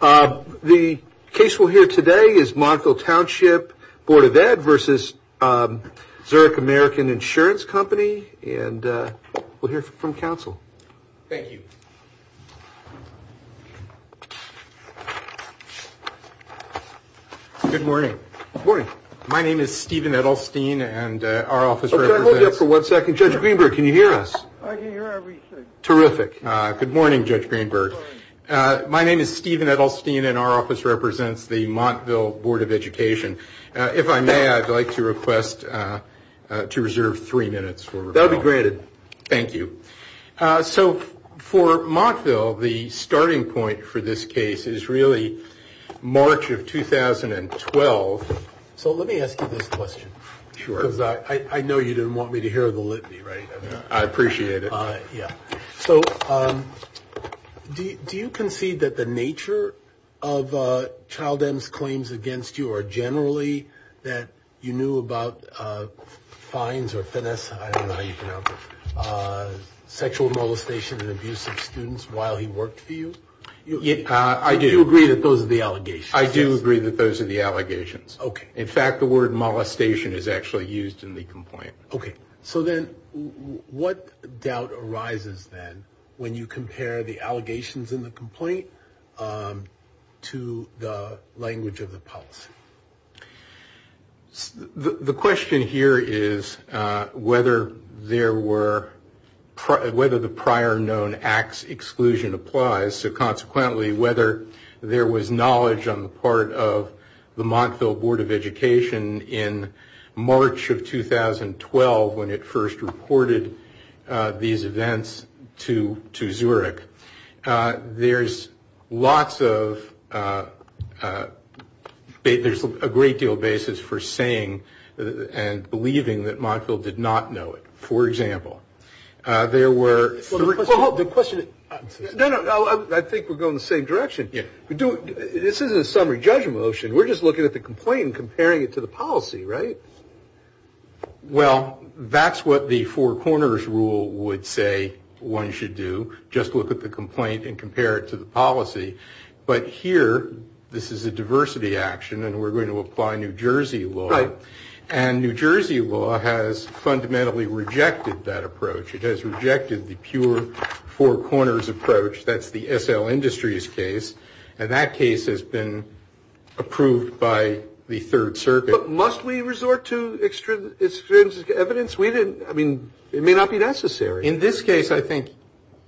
The case we'll hear today is Montville Township Board of Ed versus Zurich American Insurance Company. And we'll hear from counsel. Thank you. Good morning. Good morning. My name is Stephen Edelstein, and our office represents Can I hold you up for one second? Judge Greenberg, can you hear us? I can hear everything. Terrific. Good morning, Judge Greenberg. My name is Stephen Edelstein, and our office represents the Montville Board of Education. If I may, I'd like to request to reserve three minutes for rebuttal. That'll be granted. Thank you. So for Montville, the starting point for this case is really March of 2012. So let me ask you this question. Sure. Because I know you didn't want me to hear the litany, right? I appreciate it. Yeah. So do you concede that the nature of Child M's claims against you are generally that you knew about fines or finesse, I don't know how you pronounce it, sexual molestation and abuse of students while he worked for you? I do. You agree that those are the allegations? I do agree that those are the allegations. Okay. In fact, the word molestation is actually used in the complaint. Okay. So then what doubt arises then when you compare the allegations in the complaint to the language of the policy? The question here is whether the prior known acts exclusion applies, so consequently whether there was knowledge on the part of the Montville Board of Education in March of 2012 when it first reported these events to Zurich. There's lots of ‑‑ there's a great deal of basis for saying and believing that Montville did not know it. For example, there were ‑‑ Well, the question ‑‑ No, no, I think we're going the same direction. This isn't a summary judgment motion. We're just looking at the complaint and comparing it to the policy, right? Well, that's what the Four Corners rule would say one should do, just look at the complaint and compare it to the policy. But here this is a diversity action and we're going to apply New Jersey law. Right. And New Jersey law has fundamentally rejected that approach. It has rejected the pure Four Corners approach. That's the SL Industries case. And that case has been approved by the Third Circuit. But must we resort to extrinsic evidence? We didn't ‑‑ I mean, it may not be necessary. In this case, I think,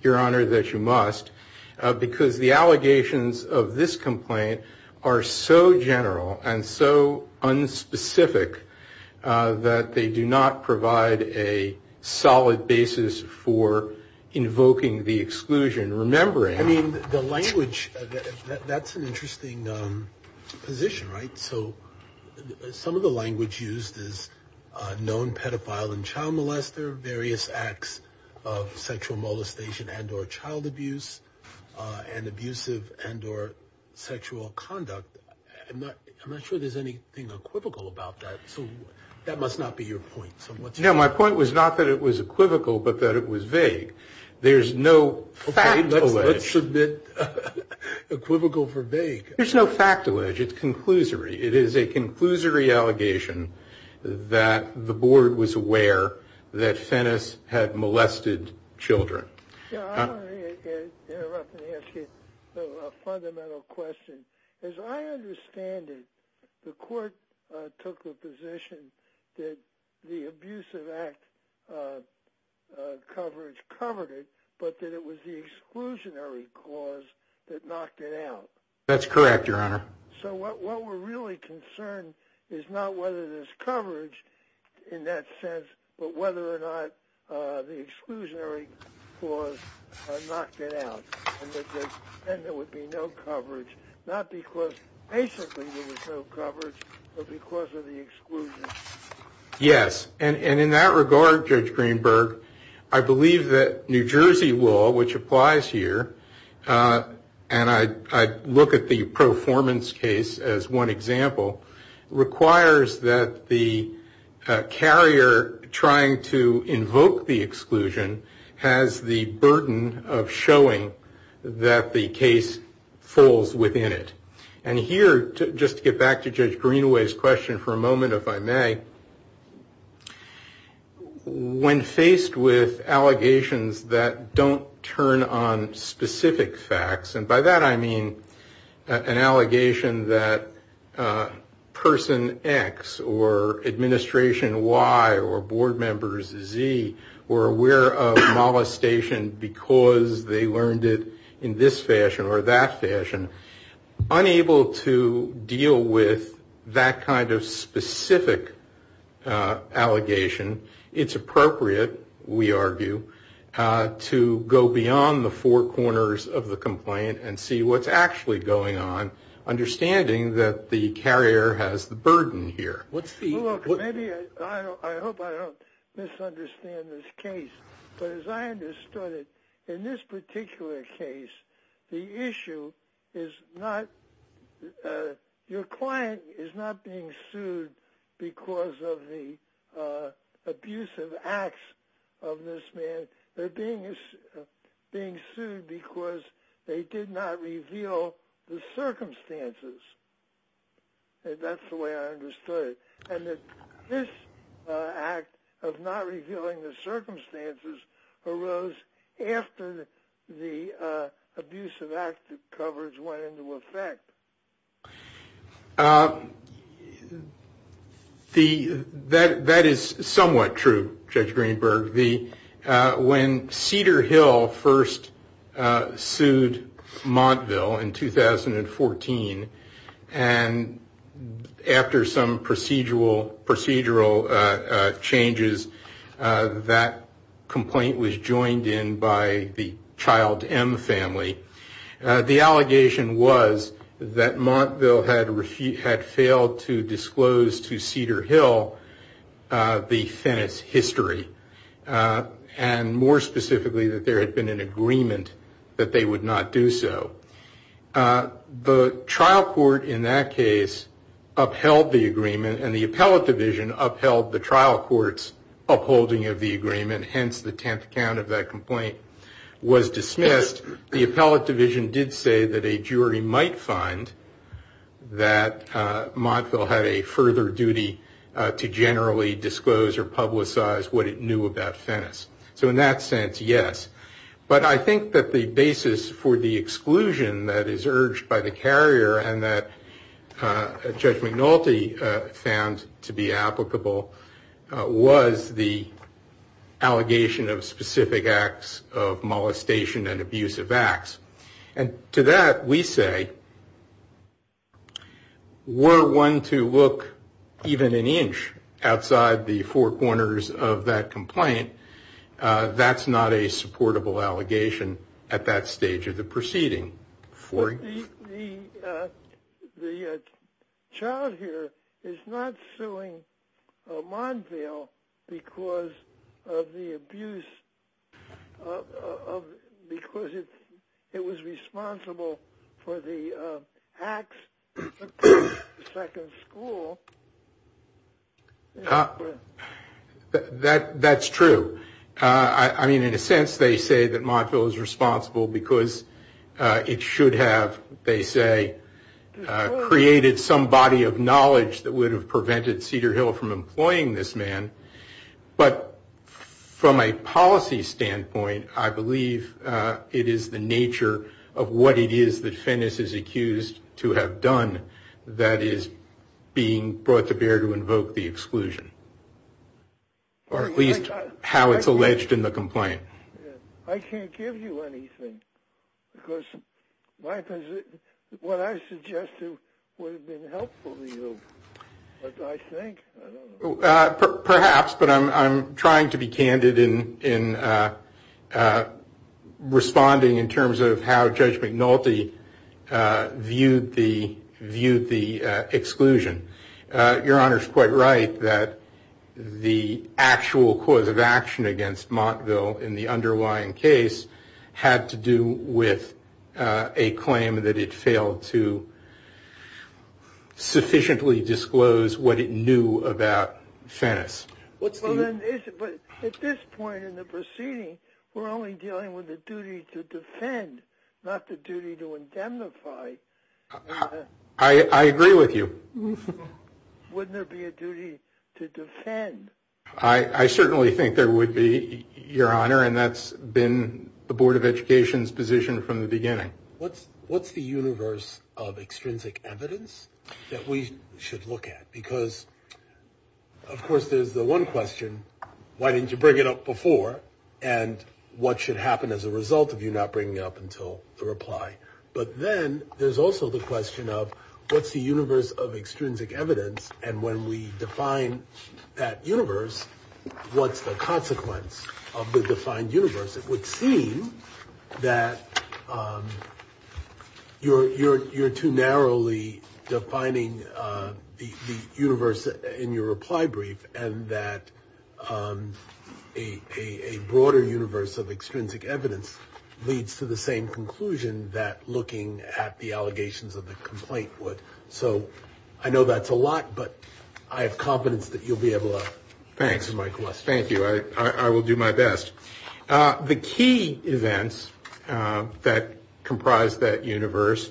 Your Honor, that you must, because the allegations of this complaint are so general and so unspecific that they do not provide a solid basis for invoking the exclusion. I mean, the language, that's an interesting position, right? So some of the language used is known pedophile and child molester, various acts of sexual molestation and or child abuse, and abusive and or sexual conduct. I'm not sure there's anything equivocal about that. So that must not be your point. No, my point was not that it was equivocal, but that it was vague. There's no fact alleged. Okay, let's submit equivocal for vague. There's no fact alleged. It's conclusory. It is a conclusory allegation that the board was aware that Fennis had molested children. Your Honor, let me interrupt and ask you a fundamental question. As I understand it, the court took the position that the abusive act coverage covered it, but that it was the exclusionary cause that knocked it out. That's correct, Your Honor. So what we're really concerned is not whether there's coverage in that sense, but whether or not the exclusionary cause knocked it out and there would be no coverage, not because basically there was no coverage, but because of the exclusion. Yes, and in that regard, Judge Greenberg, I believe that New Jersey law, which applies here, and I look at the performance case as one example, requires that the carrier trying to invoke the exclusion has the burden of showing that the case falls within it. And here, just to get back to Judge Greenaway's question for a moment, if I may, when faced with allegations that don't turn on specific facts, and by that I mean an allegation that person X or administration Y or board members Z were aware of molestation because they learned it in this fashion or that fashion, unable to deal with that kind of specific allegation, it's appropriate, we argue, to go beyond the four corners of the complaint and see what's actually going on, understanding that the carrier has the burden here. I hope I don't misunderstand this case, but as I understood it, in this particular case, the issue is not your client is not being sued because of the abusive acts of this man. They're being sued because they did not reveal the circumstances. That's the way I understood it. And that this act of not revealing the circumstances arose after the abusive act of coverage went into effect. That is somewhat true, Judge Greenberg. When Cedar Hill first sued Montville in 2014, and after some procedural changes, that complaint was joined in by the Child M family. The allegation was that Montville had failed to disclose to Cedar Hill the Fennett's history, and more specifically that there had been an agreement that they would not do so. The trial court in that case upheld the agreement, and the appellate division upheld the trial court's upholding of the agreement, hence the 10th count of that complaint was dismissed. The appellate division did say that a jury might find that Montville had a further duty to generally disclose or publicize what it knew about Fennett's. So in that sense, yes. But I think that the basis for the exclusion that is urged by the carrier, and that Judge McNulty found to be applicable, was the allegation of specific acts of molestation and abusive acts. And to that we say, were one to look even an inch outside the four corners of that complaint, that's not a supportable allegation at that stage of the proceeding. The child here is not suing Montville because of the abuse, because it was responsible for the acts of the second school. That's true. I mean, in a sense they say that Montville is responsible because it should have, they say, created some body of knowledge that would have prevented Cedar Hill from employing this man. But from a policy standpoint, I believe it is the nature of what it is that Fennett is accused to have done that is being brought to bear to invoke the exclusion. Or at least how it's alleged in the complaint. I can't give you anything, because what I suggested would have been helpful to you. But I think, I don't know. Perhaps, but I'm trying to be candid in responding in terms of how Judge McNulty viewed the exclusion. Your Honor is quite right that the actual cause of action against Montville in the underlying case had to do with a claim that it failed to sufficiently disclose what it knew about Fennett. But at this point in the proceeding, we're only dealing with the duty to defend, not the duty to indemnify. I agree with you. Wouldn't there be a duty to defend? I certainly think there would be, Your Honor. And that's been the Board of Education's position from the beginning. What's the universe of extrinsic evidence that we should look at? Because, of course, there's the one question, why didn't you bring it up before? And what should happen as a result of you not bringing it up until the reply? But then there's also the question of what's the universe of extrinsic evidence? And when we define that universe, what's the consequence of the defined universe? It would seem that you're too narrowly defining the universe in your reply brief and that a broader universe of extrinsic evidence leads to the same conclusion that looking at the allegations of the complaint would. So I know that's a lot, but I have confidence that you'll be able to answer my question. Thanks. Thank you. I will do my best. The key events that comprise that universe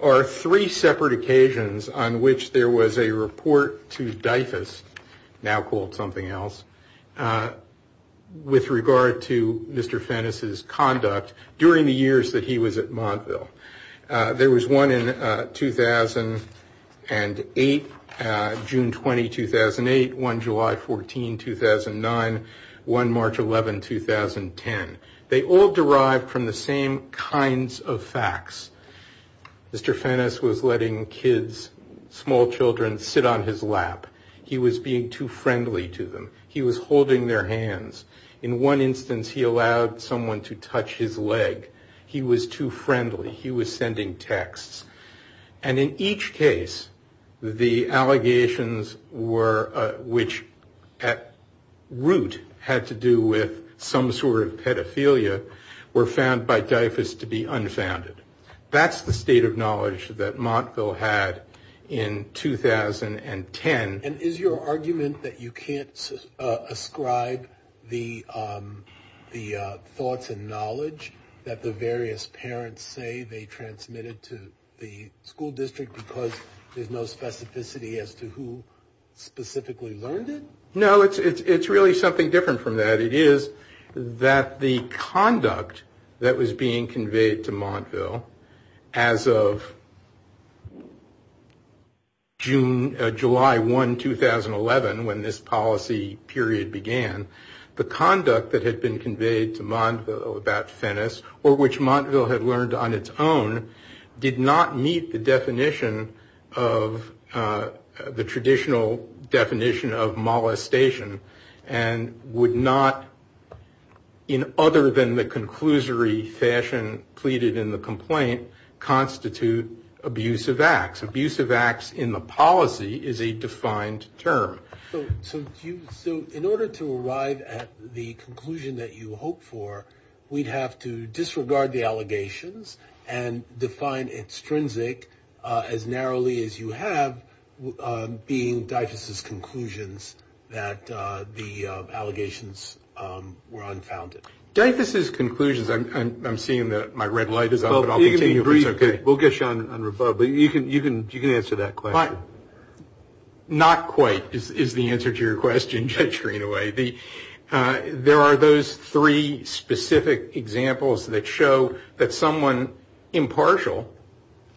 are three separate occasions on which there was a report to Dyfus, now called something else, with regard to Mr. Fenness's conduct during the years that he was at Montville. There was one in 2008, June 20, 2008, one July 14, 2009, one March 11, 2010. They all derived from the same kinds of facts. Mr. Fenness was letting kids, small children, sit on his lap. He was being too friendly to them. He was holding their hands. In one instance, he allowed someone to touch his leg. He was too friendly. He was sending texts. And in each case, the allegations which at root had to do with some sort of pedophilia were found by Dyfus to be unfounded. That's the state of knowledge that Montville had in 2010. And is your argument that you can't ascribe the thoughts and knowledge that the various parents say they transmitted to the school district because there's no specificity as to who specifically learned it? No, it's really something different from that. It is that the conduct that was being conveyed to Montville as of July 1, 2011, when this policy period began, the conduct that had been conveyed to Montville about Fenness or which Montville had learned on its own did not meet the definition of the traditional definition of molestation and would not, in other than the conclusory fashion pleaded in the complaint, constitute abusive acts. Abusive acts in the policy is a defined term. So in order to arrive at the conclusion that you hoped for, we'd have to disregard the allegations and define extrinsic as narrowly as you have being Dyfus's conclusions that the allegations were unfounded. Dyfus's conclusions, I'm seeing that my red light is on, but I'll continue if it's okay. We'll get you on rebel, but you can answer that question. Not quite is the answer to your question, Judge Greenaway. There are those three specific examples that show that someone impartial,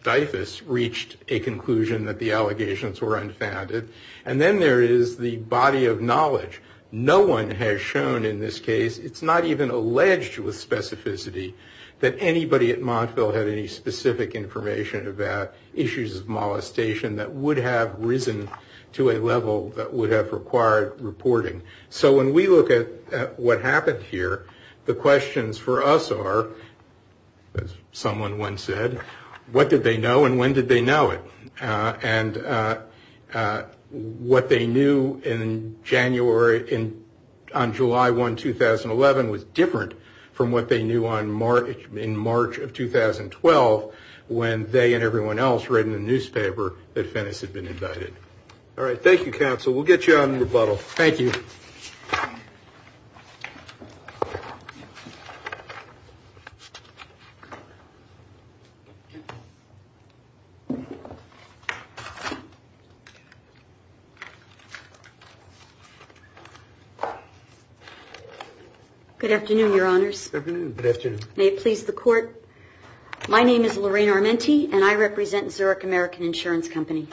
Dyfus, reached a conclusion that the allegations were unfounded. And then there is the body of knowledge. No one has shown in this case, it's not even alleged with specificity, that anybody at Montville had any specific information about issues of molestation that would have risen to a level that would have required reporting. So when we look at what happened here, the questions for us are, as someone once said, what did they know and when did they know it? And what they knew in January, on July 1, 2011, was different from what they knew in March of 2012 when they and everyone else read in the newspaper that Fennis had been indicted. All right, thank you, Counsel. We'll get you on rebuttal. Thank you. Good afternoon, Your Honors. Good afternoon. May it please the Court. My name is Lorraine Armenty and I represent Zurich American Insurance Company.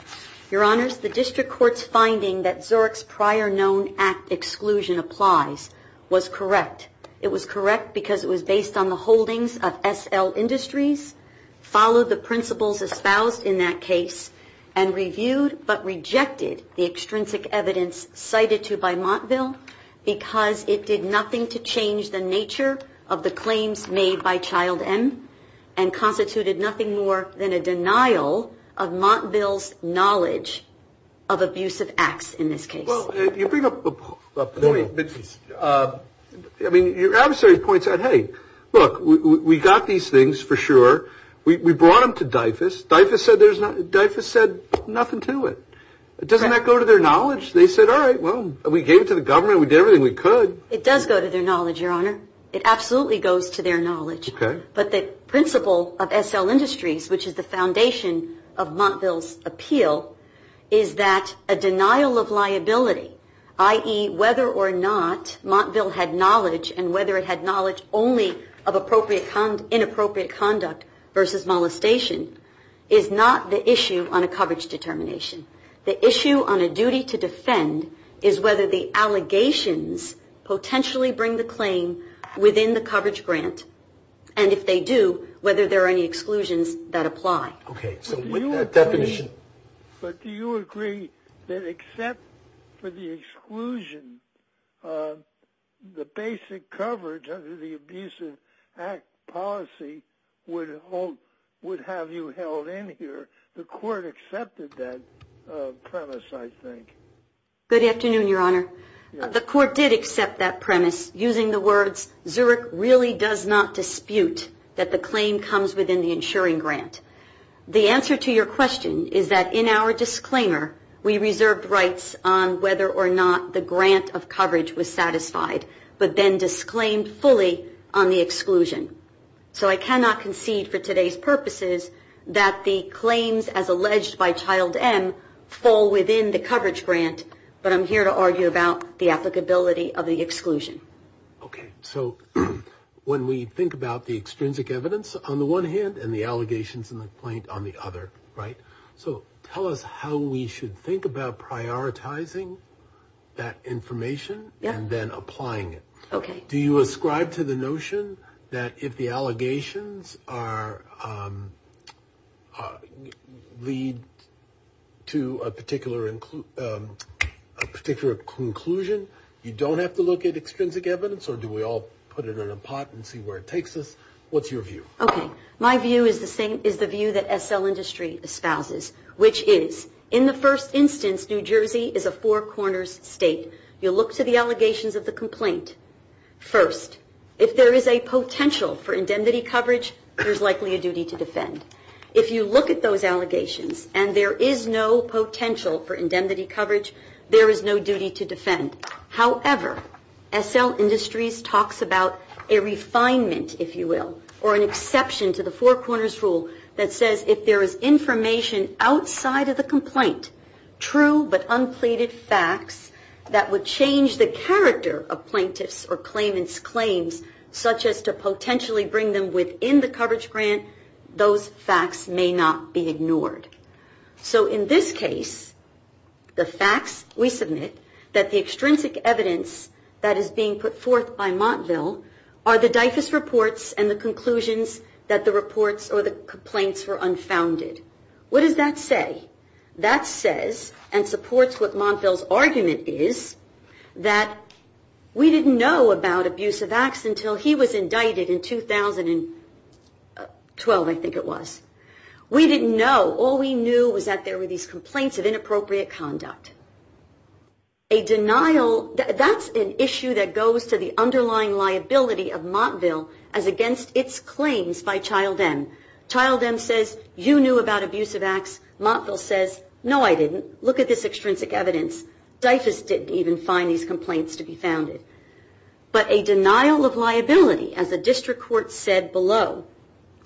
Your Honors, the District Court's finding that Zurich's prior known act exclusion applies was correct. It was correct because it was based on the holdings of SL Industries, followed the principles espoused in that case, and reviewed but rejected the extrinsic evidence cited to by Montville because it did nothing to change the nature of the claims made by Child M and constituted nothing more than a denial of Montville's knowledge of abusive acts in this case. Well, you bring up a point. I mean, your adversary points out, hey, look, we got these things for sure. We brought them to Dyfus. Dyfus said nothing to it. Doesn't that go to their knowledge? They said, all right, well, we gave it to the government. We did everything we could. It does go to their knowledge, Your Honor. It absolutely goes to their knowledge. Okay. But the principle of SL Industries, which is the foundation of Montville's appeal, is that a denial of liability, i.e., whether or not Montville had knowledge and whether it had knowledge only of inappropriate conduct versus molestation, is not the issue on a coverage determination. The issue on a duty to defend is whether the allegations potentially bring the claim within the coverage grant, and if they do, whether there are any exclusions that apply. Okay. So with that definition. But do you agree that except for the exclusion, the basic coverage under the Abusive Act policy would have you held in here? The court accepted that premise, I think. Good afternoon, Your Honor. The court did accept that premise using the words, Zurich really does not dispute that the claim comes within the insuring grant. The answer to your question is that in our disclaimer, we reserved rights on whether or not the grant of coverage was satisfied, but then disclaimed fully on the exclusion. So I cannot concede for today's purposes that the claims as alleged by Child M fall within the coverage grant, but I'm here to argue about the applicability of the exclusion. Okay. So when we think about the extrinsic evidence on the one hand and the allegations and the complaint on the other, right? So tell us how we should think about prioritizing that information and then applying it. Okay. Do you ascribe to the notion that if the allegations lead to a particular conclusion, you don't have to look at extrinsic evidence? Or do we all put it in a pot and see where it takes us? What's your view? Okay. My view is the view that SL Industry espouses, which is, in the first instance, New Jersey is a four corners state. You look to the allegations of the complaint first. If there is a potential for indemnity coverage, there's likely a duty to defend. If you look at those allegations and there is no potential for indemnity coverage, there is no duty to defend. However, SL Industries talks about a refinement, if you will, or an exception to the four corners rule that says if there is information outside of the complaint, true but unpleaded facts that would change the character of plaintiff's or claimant's claims such as to potentially bring them within the coverage grant, those facts may not be ignored. So in this case, the facts we submit that the extrinsic evidence that is being put forth by Montville are the DIFAS reports and the conclusions that the reports or the complaints were unfounded. What does that say? That says and supports what Montville's argument is that we didn't know about abusive acts until he was indicted in 2012, I think it was. We didn't know. All we knew was that there were these complaints of inappropriate conduct. That's an issue that goes to the underlying liability of Montville as against its claims by Child M. Child M says, you knew about abusive acts. Montville says, no, I didn't. Look at this extrinsic evidence. DIFAS didn't even find these complaints to be founded. But a denial of liability, as the district court said below,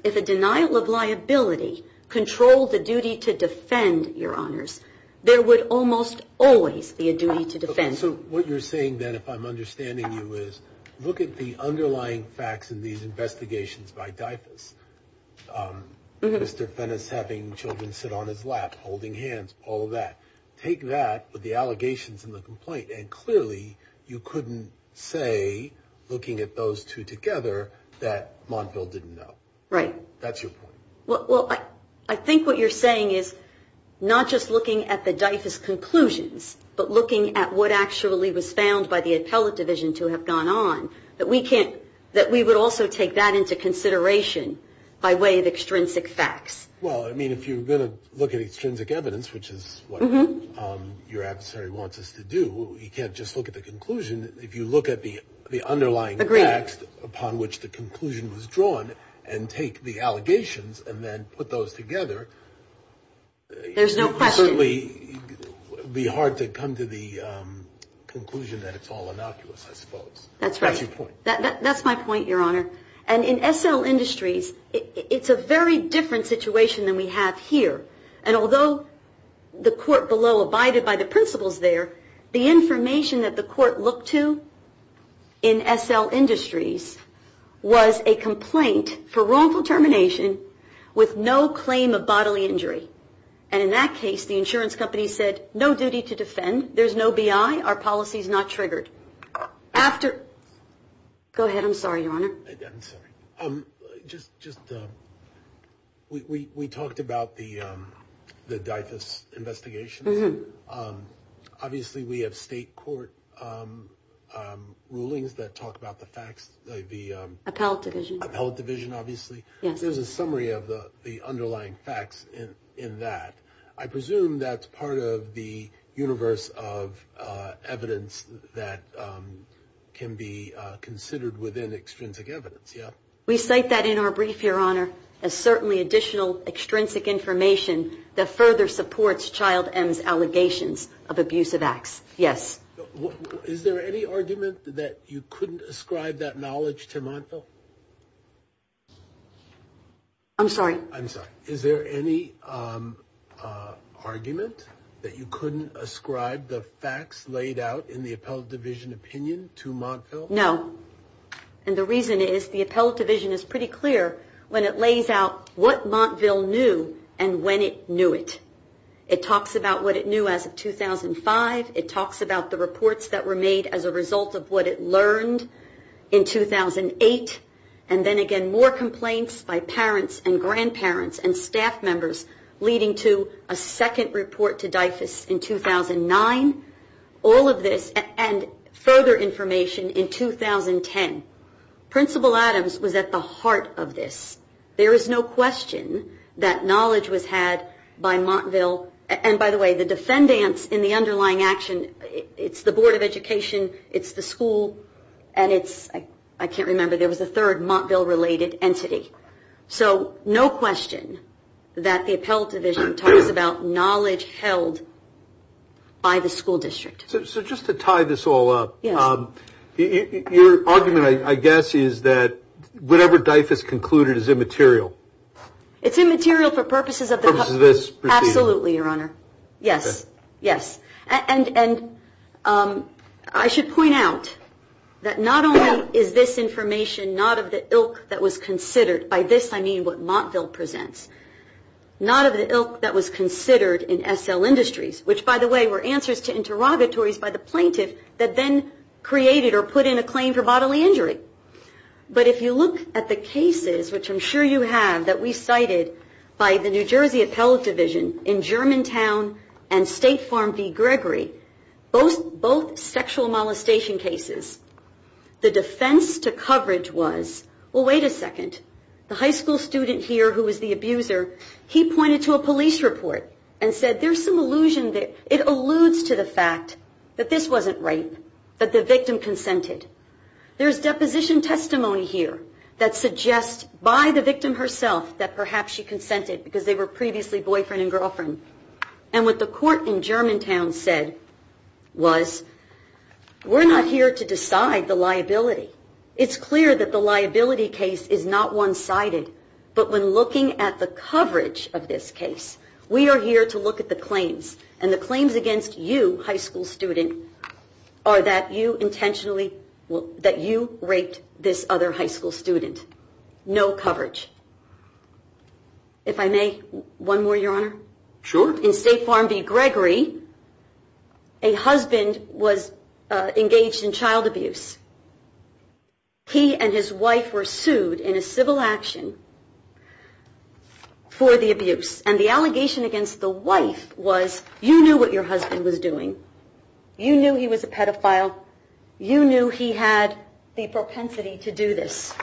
if a denial of liability controlled the duty to defend your honors, there would almost always be a duty to defend. So what you're saying, then, if I'm understanding you, is look at the underlying facts in these investigations by DIFAS. Mr. Fenn is having children sit on his lap, holding hands, all of that. Take that with the allegations and the complaint. And clearly you couldn't say, looking at those two together, that Montville didn't know. Right. That's your point. Well, I think what you're saying is not just looking at the DIFAS conclusions, but looking at what actually was found by the appellate division to have gone on, that we would also take that into consideration by way of extrinsic facts. Well, I mean, if you're going to look at extrinsic evidence, which is what your adversary wants us to do, you can't just look at the conclusion. If you look at the underlying facts upon which the conclusion was drawn and take the allegations and then put those together, it would certainly be hard to come to the conclusion that it's all innocuous, I suppose. That's right. That's your point. That's my point, Your Honor. And in SL Industries, it's a very different situation than we have here. And although the court below abided by the principles there, the information that the court looked to in SL Industries was a complaint for wrongful termination with no claim of bodily injury. And in that case, the insurance company said, no duty to defend. There's no BI. Our policy's not triggered. After – go ahead, I'm sorry, Your Honor. I'm sorry. Just – we talked about the DyFus investigations. Obviously, we have state court rulings that talk about the facts, the – Appellate division. Appellate division, obviously. Yes. There's a summary of the underlying facts in that. I presume that's part of the universe of evidence that can be considered within extrinsic evidence, yeah? We cite that in our brief, Your Honor, as certainly additional extrinsic information that further supports Child M's allegations of abusive acts. Yes. Is there any argument that you couldn't ascribe that knowledge to Montville? I'm sorry. I'm sorry. Is there any argument that you couldn't ascribe the facts laid out in the appellate division opinion to Montville? No. And the reason is the appellate division is pretty clear when it lays out what Montville knew and when it knew it. It talks about what it knew as of 2005. It talks about the reports that were made as a result of what it learned in 2008. And then again, more complaints by parents and grandparents and staff members leading to a second report to DIFUS in 2009. All of this and further information in 2010. Principal Adams was at the heart of this. There is no question that knowledge was had by Montville. And by the way, the defendants in the underlying action, it's the Board of Education, it's the school, and it's – I can't remember. There was a third Montville-related entity. So no question that the appellate division talks about knowledge held by the school district. So just to tie this all up, your argument, I guess, is that whatever DIFUS concluded is immaterial. It's immaterial for purposes of this procedure. Absolutely, Your Honor. Yes. Yes. And I should point out that not only is this information not of the ilk that was considered. By this I mean what Montville presents. Not of the ilk that was considered in SL Industries, which by the way were answers to interrogatories by the plaintiff that then created or put in a claim for bodily injury. But if you look at the cases, which I'm sure you have, that we cited by the New Jersey Appellate Division in Germantown and State Farm v. Gregory, both sexual molestation cases, the defense to coverage was, well, wait a second. The high school student here who was the abuser, he pointed to a police report and said, there's some allusion that it alludes to the fact that this wasn't rape, that the victim consented. There's deposition testimony here that suggests by the victim herself that perhaps she consented because they were previously boyfriend and girlfriend. And what the court in Germantown said was, we're not here to decide the liability. It's clear that the liability case is not one-sided. But when looking at the coverage of this case, we are here to look at the claims. And the claims against you, high school student, are that you intentionally, that you raped this other high school student. No coverage. If I may, one more, Your Honor? Sure. In State Farm v. Gregory, a husband was engaged in child abuse. He and his wife were sued in a civil action for the abuse. And the allegation against the wife was, you knew what your husband was doing. You knew he was a pedophile. You knew he had the propensity to do this.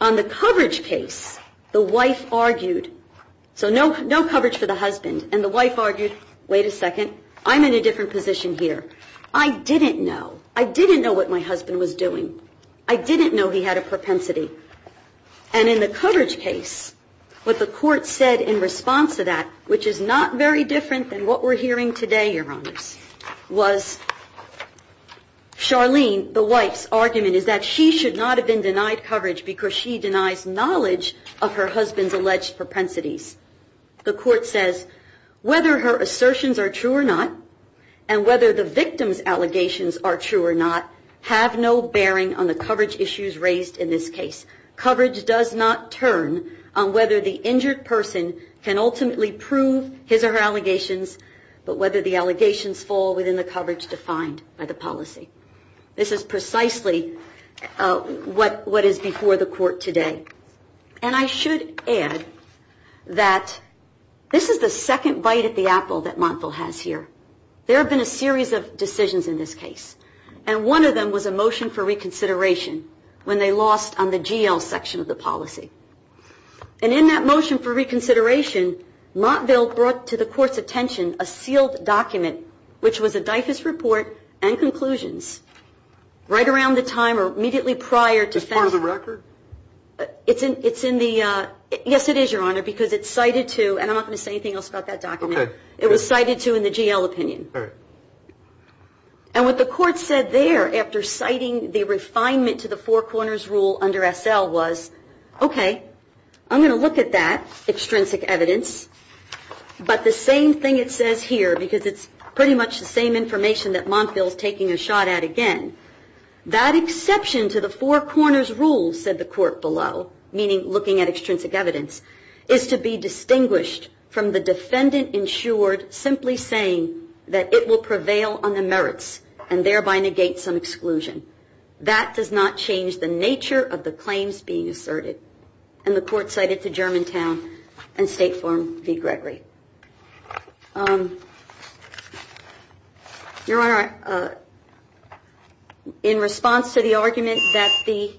On the coverage case, the wife argued. So no coverage for the husband. And the wife argued, wait a second, I'm in a different position here. I didn't know. I didn't know what my husband was doing. I didn't know he had a propensity. And in the coverage case, what the court said in response to that, which is not very different than what we're hearing today, Your Honors, was Charlene, the wife's argument is that she should not have been denied coverage because she denies knowledge of her husband's alleged propensities. The court says whether her assertions are true or not, and whether the victim's allegations are true or not, have no bearing on the coverage issues raised in this case. Coverage does not turn on whether the injured person can ultimately prove his or her allegations, but whether the allegations fall within the coverage defined by the policy. This is precisely what is before the court today. And I should add that this is the second bite at the apple that Montville has here. There have been a series of decisions in this case. And one of them was a motion for reconsideration, when they lost on the GL section of the policy. And in that motion for reconsideration, Montville brought to the court's attention a sealed document, which was a DIFAS report and conclusions, right around the time or immediately prior. Is this part of the record? Yes, it is, Your Honor, because it's cited to, and I'm not going to say anything else about that document. It was cited to in the GL opinion. And what the court said there, after citing the refinement to the Four Corners Rule under SL was, okay, I'm going to look at that extrinsic evidence, but the same thing it says here, because it's pretty much the same information that Montville is taking a shot at again. That exception to the Four Corners Rule, said the court below, meaning looking at extrinsic evidence, is to be distinguished from the defendant insured simply saying that it will prevail on the merits and thereby negate some exclusion. That does not change the nature of the claims being asserted. And the court cited to Germantown and State Farm v. Gregory. Your Honor, in response to the argument that the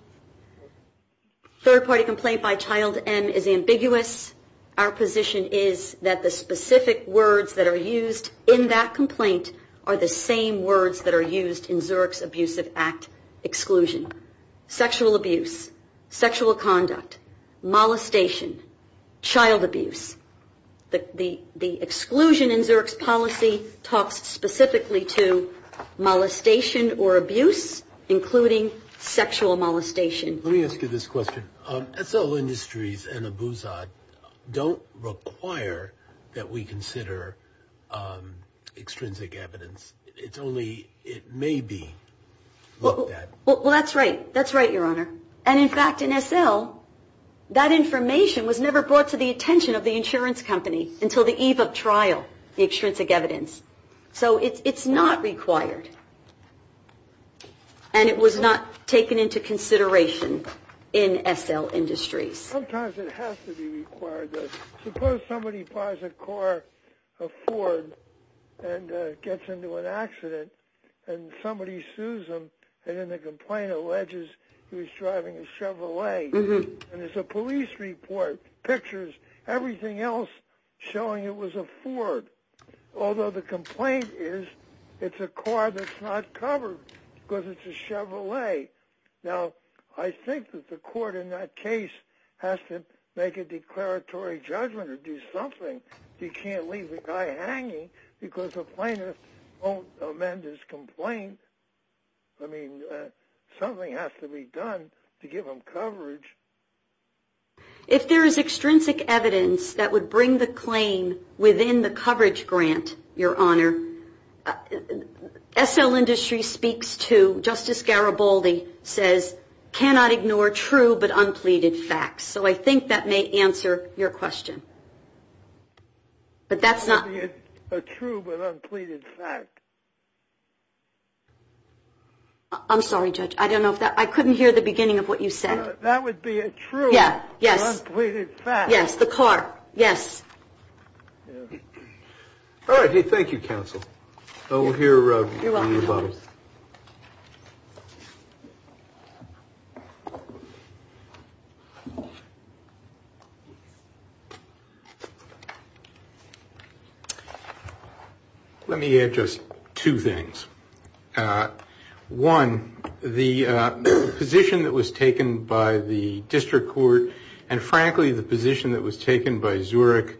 third-party complaint by Child M is ambiguous, our position is that the specific words that are used in that complaint are the same words that are used in Zurich's Abusive Act exclusion. Sexual abuse, sexual conduct, molestation, child abuse. The exclusion in Zurich's policy talks specifically to molestation or abuse, including sexual molestation. Let me ask you this question. S.L. Industries and Abuzad don't require that we consider extrinsic evidence. It's only, it may be looked at. Well, that's right. That's right, Your Honor. And in fact, in S.L., that information was never brought to the attention of the insurance company until the eve of trial, the extrinsic evidence. So it's not required. And it was not taken into consideration in S.L. Industries. Sometimes it has to be required. Suppose somebody buys a car, a Ford, and gets into an accident, and somebody sues them, and then the complaint alleges he was driving a Chevrolet. And there's a police report, pictures, everything else showing it was a Ford. Although the complaint is it's a car that's not covered because it's a Chevrolet. Now, I think that the court in that case has to make a declaratory judgment or do something. You can't leave the guy hanging because the plaintiff won't amend his complaint. I mean, something has to be done to give him coverage. If there is extrinsic evidence that would bring the claim within the coverage grant, Your Honor, S.L. Industries speaks to, Justice Garibaldi says, cannot ignore true but unpleaded facts. So I think that may answer your question. But that's not. A true but unpleaded fact. I'm sorry, Judge. I don't know if that, I couldn't hear the beginning of what you said. That would be a true but unpleaded fact. Yes, the car. Yes. All right. Thank you, counsel. We'll hear from you about it. Let me add just two things. One, the position that was taken by the district court and, frankly, the position that was taken by Zurich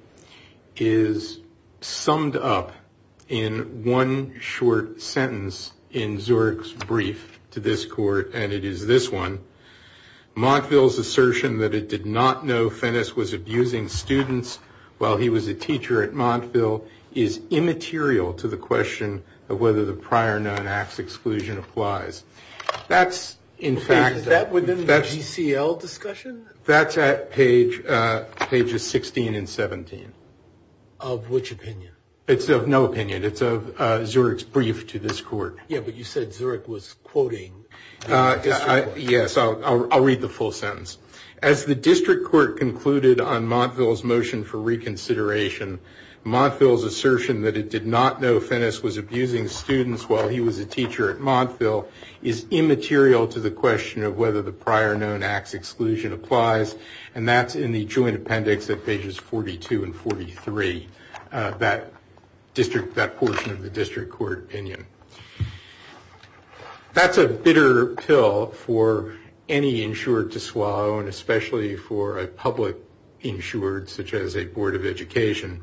is summed up in one short sentence in Zurich's brief to this court, and it is this one. Montville's assertion that it did not know Fennes was abusing students while he was a teacher at Montville is immaterial to the question of whether the prior known acts exclusion applies. That's, in fact. Is that within the GCL discussion? That's at pages 16 and 17. Of which opinion? It's of no opinion. It's of Zurich's brief to this court. Yeah, but you said Zurich was quoting the district court. Yes, I'll read the full sentence. As the district court concluded on Montville's motion for reconsideration, Montville's assertion that it did not know Fennes was abusing students while he was a teacher at Montville is immaterial to the question of whether the prior known acts exclusion applies, and that's in the joint appendix at pages 42 and 43, that portion of the district court opinion. That's a bitter pill for any insured to swallow, and especially for a public insured such as a board of education,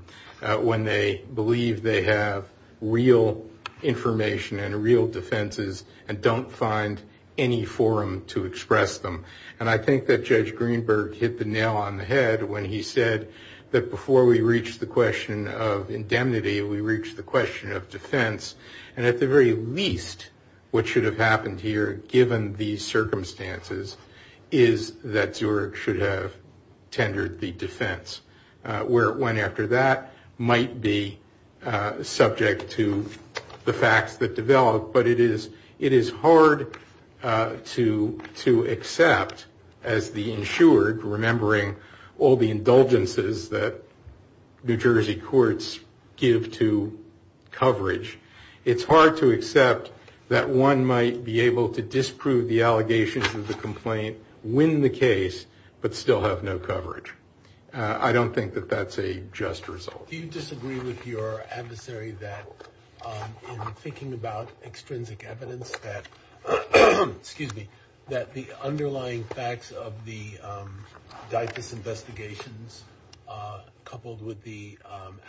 when they believe they have real information and real defenses and don't find any forum to express them. And I think that Judge Greenberg hit the nail on the head when he said that before we reach the question of indemnity, we reach the question of defense. And at the very least, what should have happened here, given the circumstances, is that Zurich should have tendered the defense. Where it went after that might be subject to the facts that develop, but it is hard to accept as the insured, remembering all the indulgences that New Jersey courts give to coverage, it's hard to accept that one might be able to disprove the allegations of the complaint, win the case, but still have no coverage. I don't think that that's a just result. Do you disagree with your adversary that in thinking about extrinsic evidence that, excuse me, that the underlying facts of the Dyfus investigations, coupled with the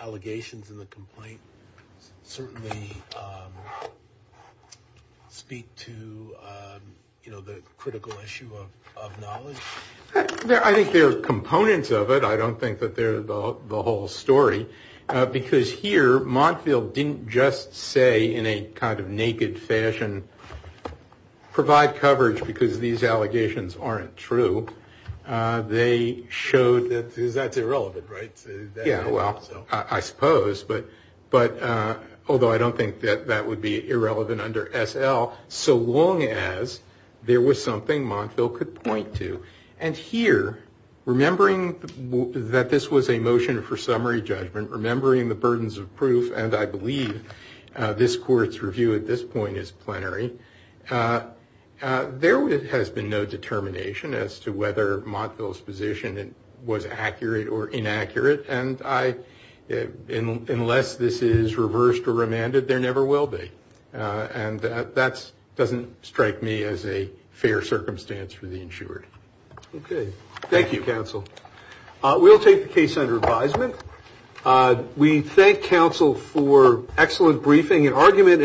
allegations in the complaint, certainly speak to the critical issue of knowledge? I think there are components of it. I don't think that they're the whole story. Because here, Montfield didn't just say in a kind of naked fashion, provide coverage because these allegations aren't true. They showed that that's irrelevant, right? Yeah, well, I suppose. Although I don't think that that would be irrelevant under SL, so long as there was something Montfield could point to. And here, remembering that this was a motion for summary judgment, remembering the burdens of proof, and I believe this court's review at this point is plenary, there has been no determination as to whether Montfield's position was accurate or inaccurate. And unless this is reversed or remanded, there never will be. And that doesn't strike me as a fair circumstance for the insured. Okay. Thank you, counsel. We'll take the case under advisement. We thank counsel for excellent briefing and argument.